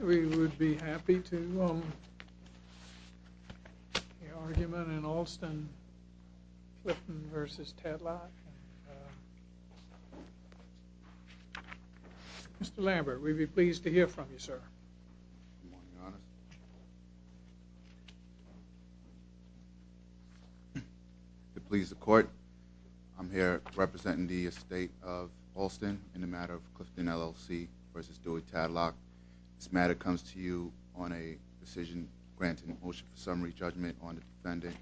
We would be happy to, um, the argument in Alston, Clifton v. Tadlock, and, uh, Mr. Lambert, we'd be pleased to hear from you, sir. Good morning, Your Honor. To please the court, I'm here representing the estate of Alston in the matter of Clifton LLC v. Dewey Tadlock. This matter comes to you on a decision granting a motion for summary judgment on the defendant.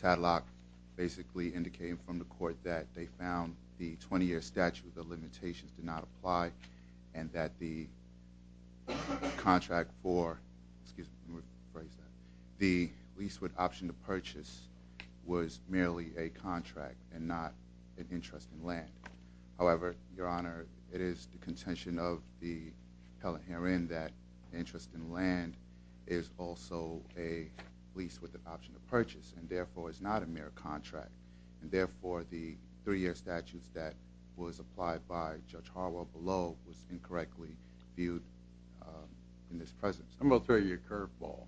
Tadlock basically indicated from the court that they found the 20-year statute of limitations did not apply and that the contract for, excuse me, let me rephrase that, the lease with option to purchase was merely a contract and not an interest in land. However, Your Honor, it is the contention of the appellant herein that interest in land is also a lease with an option to purchase and therefore is not a mere contract and therefore the three-year statute that was applied by Judge Harwell below was incorrectly viewed in this presence. I'm going to throw you a curveball.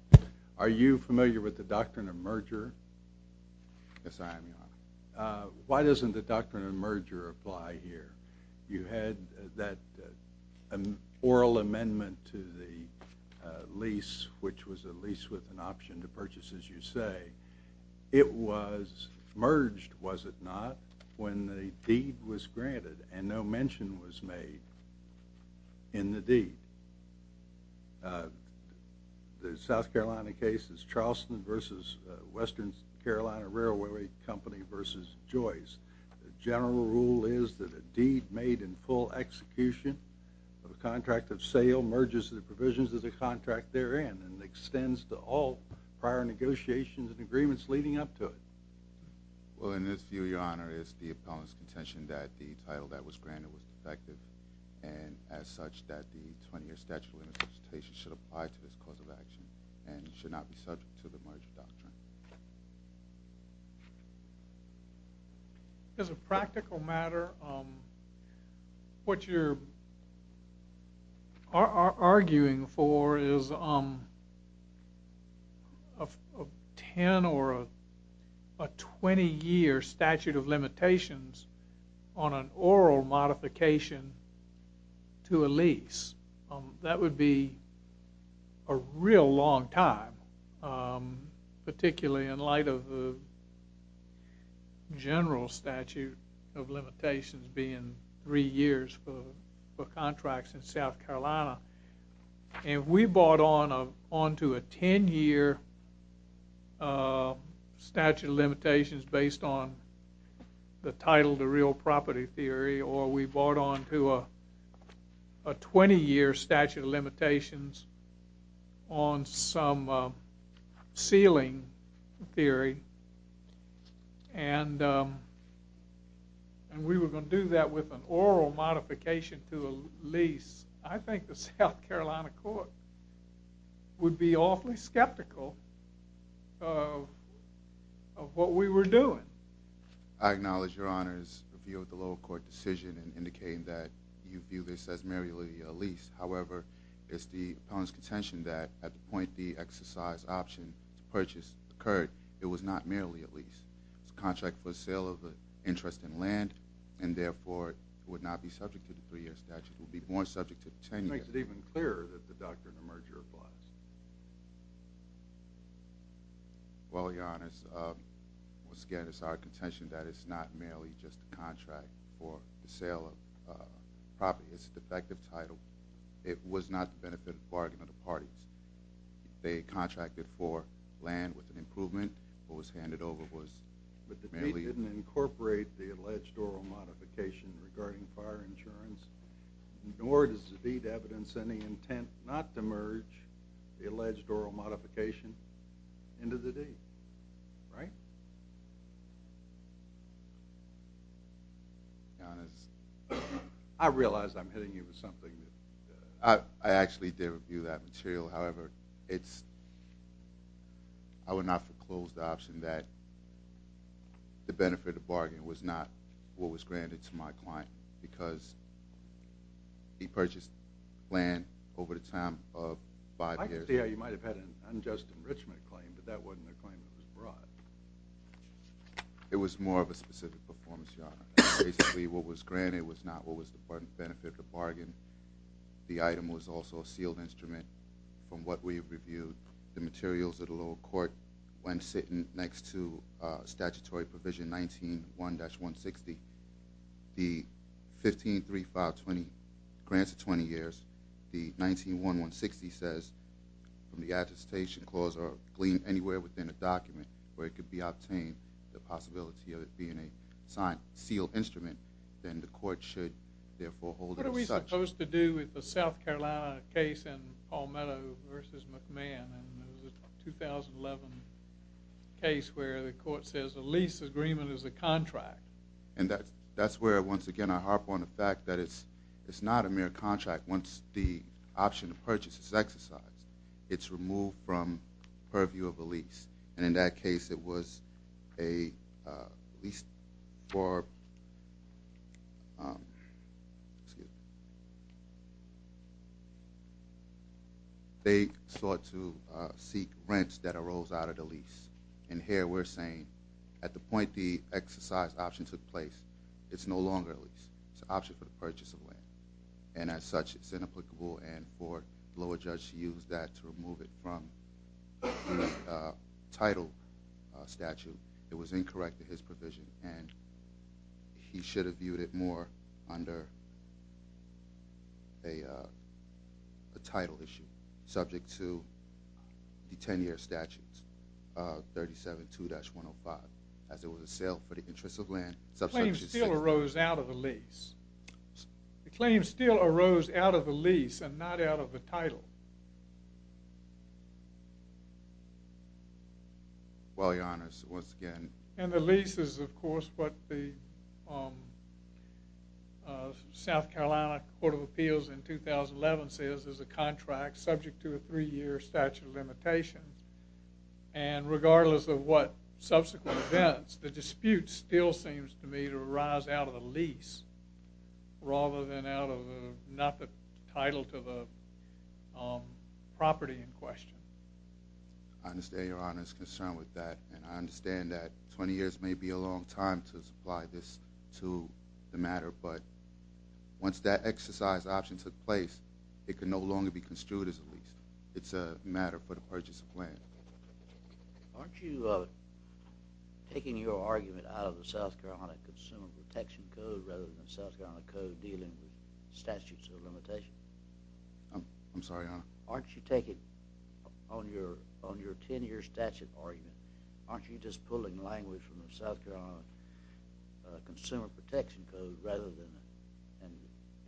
Are you familiar with the doctrine of merger? Yes, I am, Your Honor. Why doesn't the doctrine of merger apply here? You had that oral amendment to the lease which was a lease with an option to purchase, as you say. It was merged, was it not, when the deed was granted and no mention was made in the deed. The South Carolina case is Charleston v. Western Carolina Railway Company v. Joyce. The general rule is that a deed made in full execution of a contract of sale merges the provisions of the contract therein and extends to all prior negotiations and agreements leading up to it. Well, in this view, Your Honor, it's the appellant's contention that the title that was granted was defective and as such that the 20-year statute of limitations should apply to this cause of action and should not be subject to the merger doctrine. As a practical matter, what you're arguing for is a 10 or a 20-year statute of limitations on an oral modification to a lease. That would be a real long time, particularly in light of the general statute of limitations being three years for contracts in South Carolina. If we brought on to a 10-year statute of limitations based on the title of the real property theory or we brought on to a 20-year statute of limitations on some ceiling theory and we were going to do that with an oral modification to a lease, I think the South Carolina court would be awfully skeptical of what we were doing. I acknowledge Your Honor's view of the lower court decision and indicating that you view this as merely a lease. However, it's the appellant's contention that at the point the exercise option purchase occurred, it was not merely a lease. It's a contract for sale of an interest in land and therefore it would not be subject to the three-year statute. It would be borne subject to the 10-year statute. It makes it even clearer that the doctrine emerged your clause. Well, Your Honor, once again, it's our contention that it's not merely just a contract for the sale of property. It's a defective title. It was not the benefit of a bargain of the parties. They contracted for land with an improvement or was handed over. But the deed didn't incorporate the alleged oral modification regarding fire insurance nor does the deed evidence any intent not to merge the alleged oral modification into the deed. Your Honor, I realize I'm hitting you with something. I actually did review that material. However, I would not foreclose the option that the benefit of the bargain was not what was granted to my client because he purchased land over the time of five years. I can see how you might have had an unjust enrichment claim, but that wasn't a claim that was brought. It was more of a specific performance, Your Honor. Basically, what was granted was not what was the benefit of the bargain. The item was also a sealed instrument from what we have reviewed. The materials of the lower court, when sitting next to statutory provision 19-1-160, the 15-3-5-20 grants of 20 years, the 19-1-160 says, from the attestation clause or gleaned anywhere within a document where it could be obtained, the possibility of it being a sealed instrument, then the court should therefore hold it as such. It was supposed to do with the South Carolina case in Palmetto v. McMahon. It was a 2011 case where the court says a lease agreement is a contract. That's where, once again, I harp on the fact that it's not a mere contract. Once the option of purchase is exercised, it's removed from purview of a lease. In that case, it was a lease for... They sought to seek rents that arose out of the lease. Here, we're saying, at the point the exercise option took place, it's no longer a lease. It's an option for the purchase of land. And as such, it's inapplicable. And for the lower judge to use that to remove it from the title statute, it was incorrect to his provision. And he should have viewed it more under a title issue subject to the 10-year statutes, 37-2-105, as it was a sale for the interest of land. The claim still arose out of the lease. The claim still arose out of the lease and not out of the title. Well, Your Honor, once again... And the lease is, of course, what the South Carolina Court of Appeals in 2011 says is a contract subject to a three-year statute of limitations. And regardless of what subsequent events, the dispute still seems to me to arise out of the lease. Rather than out of not the title to the property in question. I understand Your Honor's concern with that. And I understand that 20 years may be a long time to supply this to the matter. But once that exercise option took place, it can no longer be construed as a lease. It's a matter for the purchase of land. Aren't you taking your argument out of the South Carolina Consumer Protection Code rather than the South Carolina Code dealing with statutes of limitations? I'm sorry, Your Honor? Aren't you taking, on your 10-year statute argument, aren't you just pulling language from the South Carolina Consumer Protection Code rather than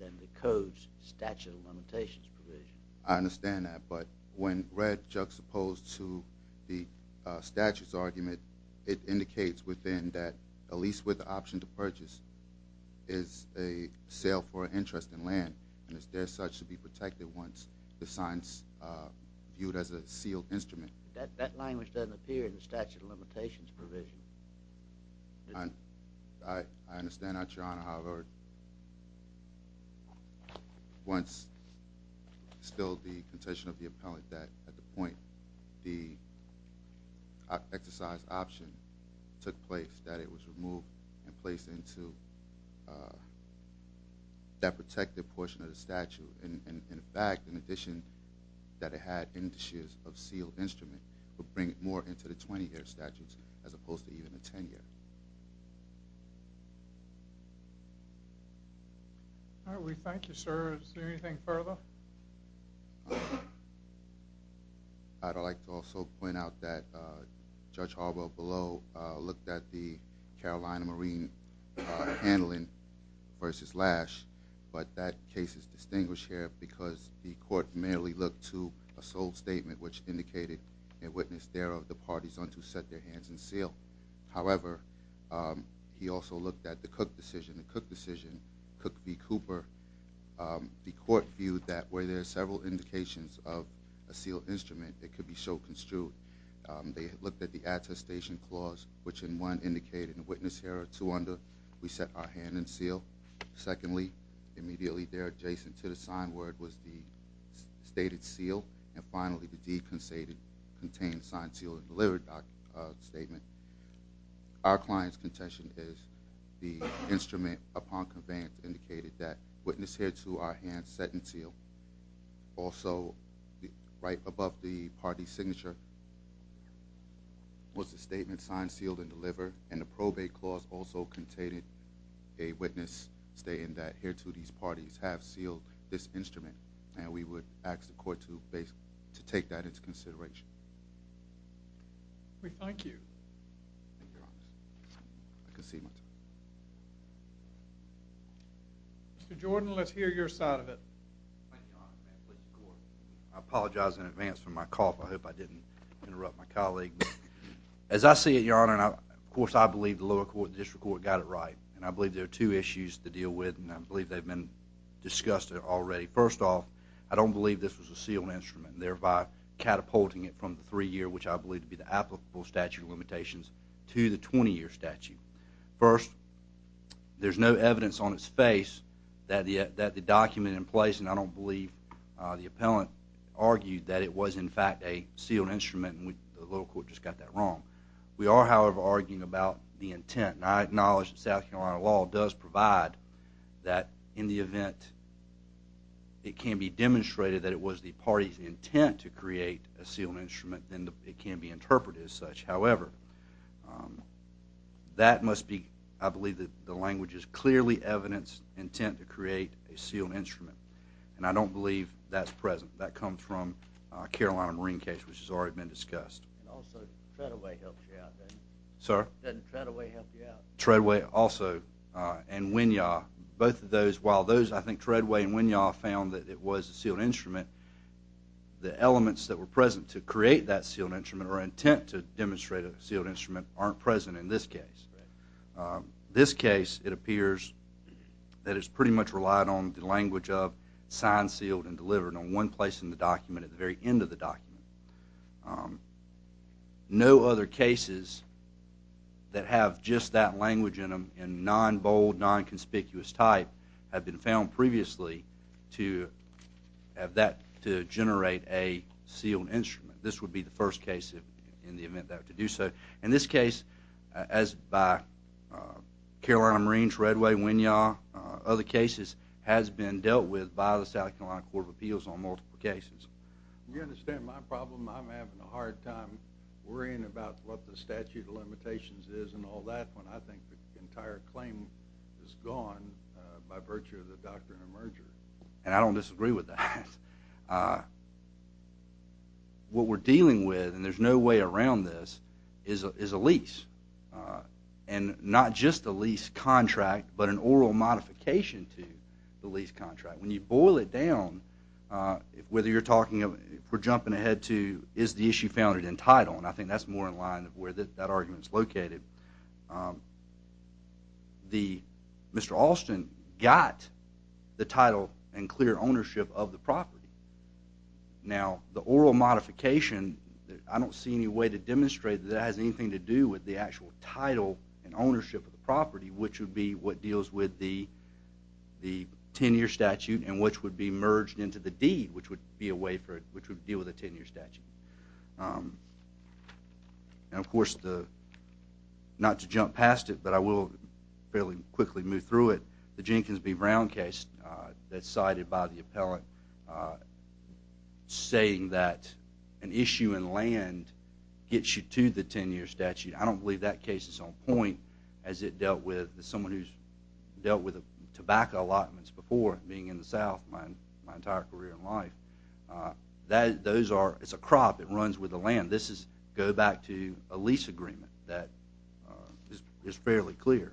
the Code's statute of limitations provision? I understand that. But when read juxtaposed to the statute's argument, it indicates within that a lease with the option to purchase is a sale for an interest in land and is there such to be protected once the sign's viewed as a sealed instrument. That language doesn't appear in the statute of limitations provision. I understand that, Your Honor. However, once still the contention of the appellant that at the point the exercise option took place that it was removed and placed into that protected portion of the statute. In fact, in addition that it had indices of sealed instrument would bring it more into the 20-year statutes as opposed to even the 10-year. We thank you, sir. Is there anything further? I'd like to also point out that Judge Harwell below looked at the Carolina Marine handling versus Lash. But that case is distinguished here because the court merely looked to a sole statement which indicated a witness thereof the parties unto set their hands and seal. However, he also looked at the Cook decision. The Cook decision, Cook v. Cooper, the court viewed that where there are several indications of a sealed instrument that could be so construed. They looked at the attestation clause which in one indicated a witness here or two under we set our hand and seal. Secondly, immediately there adjacent to the sign word was the stated seal. And finally, the decontained signed sealed and delivered statement. Our client's contention is the instrument upon conveyance indicated that witness here to our hand set and seal. Also, right above the party's signature was the statement signed, sealed, and delivered. And the probate clause also contained a witness stating that here to these parties have sealed this instrument. And we would ask the court to take that into consideration. We thank you. I concede my time. Mr. Jordan, let's hear your side of it. I apologize in advance for my cough. I hope I didn't interrupt my colleague. As I see it, Your Honor, of course I believe the lower court, the district court, got it right. And I believe there are two issues to deal with and I believe they've been discussed already. First off, I don't believe this was a sealed instrument thereby catapulting it from the three-year, which I believe to be the applicable statute of limitations, to the 20-year statute. First, there's no evidence on its face that the document in place, and I don't believe the appellant, argued that it was in fact a sealed instrument, and the lower court just got that wrong. We are, however, arguing about the intent. And I acknowledge that South Carolina law does provide that in the event it can be demonstrated that it was the party's intent to create a sealed instrument, then it can be interpreted as such. However, that must be... I believe that the language is clearly evidence, intent to create a sealed instrument. And I don't believe that's present. That comes from a Carolina Marine case, which has already been discussed. Also, Treadway helped you out, didn't he? Sir? Didn't Treadway help you out? Treadway also, and Winyah. Both of those, while those, I think Treadway and Winyah, found that it was a sealed instrument, the elements that were present to create that sealed instrument or intent to demonstrate a sealed instrument aren't present in this case. This case, it appears, that it's pretty much relied on the language of signed, sealed, and delivered in one place in the document at the very end of the document. No other cases that have just that language in them in non-bold, non-conspicuous type have been found previously to generate a sealed instrument. This would be the first case in the event that to do so. In this case, as by Carolina Marines, Treadway, Winyah, other cases has been dealt with by the South Carolina Court of Appeals on multiple cases. You understand my problem? I'm having a hard time worrying about what the statute of limitations is and all that when I think the entire claim is gone by virtue of the doctrine of merger. And I don't disagree with that. What we're dealing with, and there's no way around this, is a lease. And not just a lease contract, but an oral modification to the lease contract. When you boil it down, whether you're talking of, if we're jumping ahead to, is the issue founded in title? And I think that's more in line with where that argument's located. Mr. Alston got the title and clear ownership of the property. Now, the oral modification, I don't see any way to demonstrate that it has anything to do with the actual title and ownership of the property, which would be what deals with the 10-year statute and which would be merged into the deed, which would deal with a 10-year statute. And, of course, not to jump past it, but I will fairly quickly move through it. The Jenkins v. Brown case that's cited by the appellate saying that an issue in land gets you to the 10-year statute, I don't believe that case is on point as it dealt with someone who's dealt with tobacco allotments before, being in the South my entire career in life. It's a crop. It runs with the land. This is, go back to a lease agreement. That is fairly clear.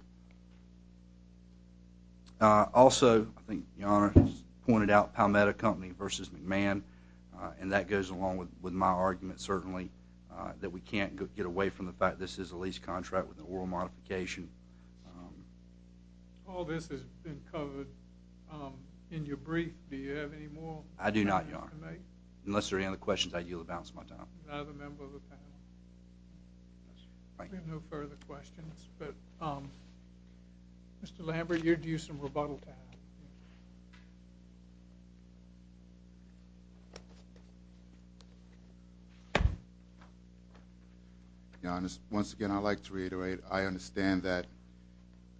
Also, I think the Honor has pointed out Palmetto Company v. McMahon, and that goes along with my argument, certainly, that we can't get away from the fact this is a lease contract with an oral modification. All this has been covered. In your brief, do you have any more? I do not, Your Honor. Unless there are any other questions, I yield the balance of my time. Another member of the panel. We have no further questions. Mr. Lambert, you're due some rebuttal time. Once again, I'd like to reiterate, I understand that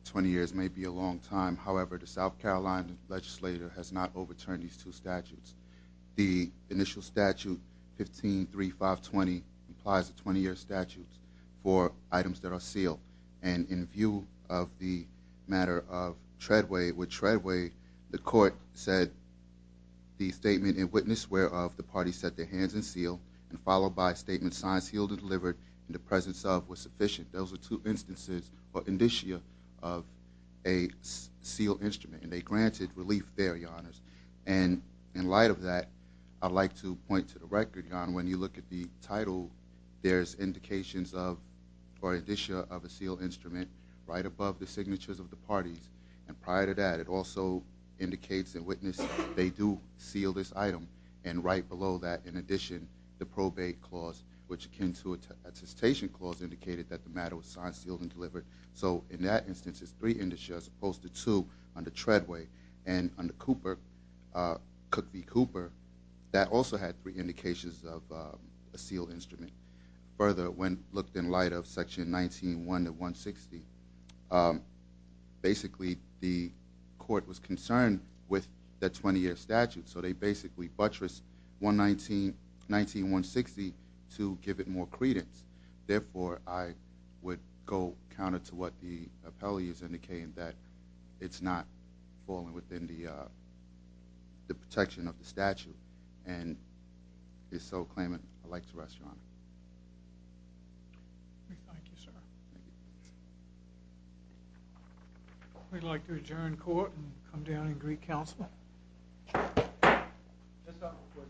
20 years may be a long time. However, the South Carolina legislator has not overturned these two statutes. The initial statute, 153520, implies a 20-year statute for items that are sealed. And in view of the matter of Treadway, with Treadway, the court said the statement, in witness whereof, the party set their hands and sealed, and followed by a statement, signs healed and delivered, in the presence of was sufficient. Those are two instances, or indicia, of a sealed instrument. And they granted relief there, Your Honors. And in light of that, I'd like to point to the record, Your Honor. When you look at the title, there's indications of, or indicia, of a sealed instrument, right above the signatures of the parties. And prior to that, it also indicates in witness, they do seal this item. And right below that, in addition, the probate clause, which akin to an attestation clause, indicated that the matter was signed, sealed, and delivered. So, in that instance, it's three indicia, as opposed to two, under Treadway. And under Cooper, Cook v. Cooper, that also had three indications of a sealed instrument. Further, when looked in light of section 19.1 to 160, basically, the court was concerned with that 20-year statute. So, they basically buttressed 19.160 to give it more credence. Therefore, I would go counter to what the appellee has indicated, that it's not falling within the protection of the statute. And, if so, claim it. I'd like to rest, Your Honor. Thank you, sir. Thank you. We'd like to adjourn court and come down and agree counsel. Just a quick thing, during the signing of that, I got to see the United States.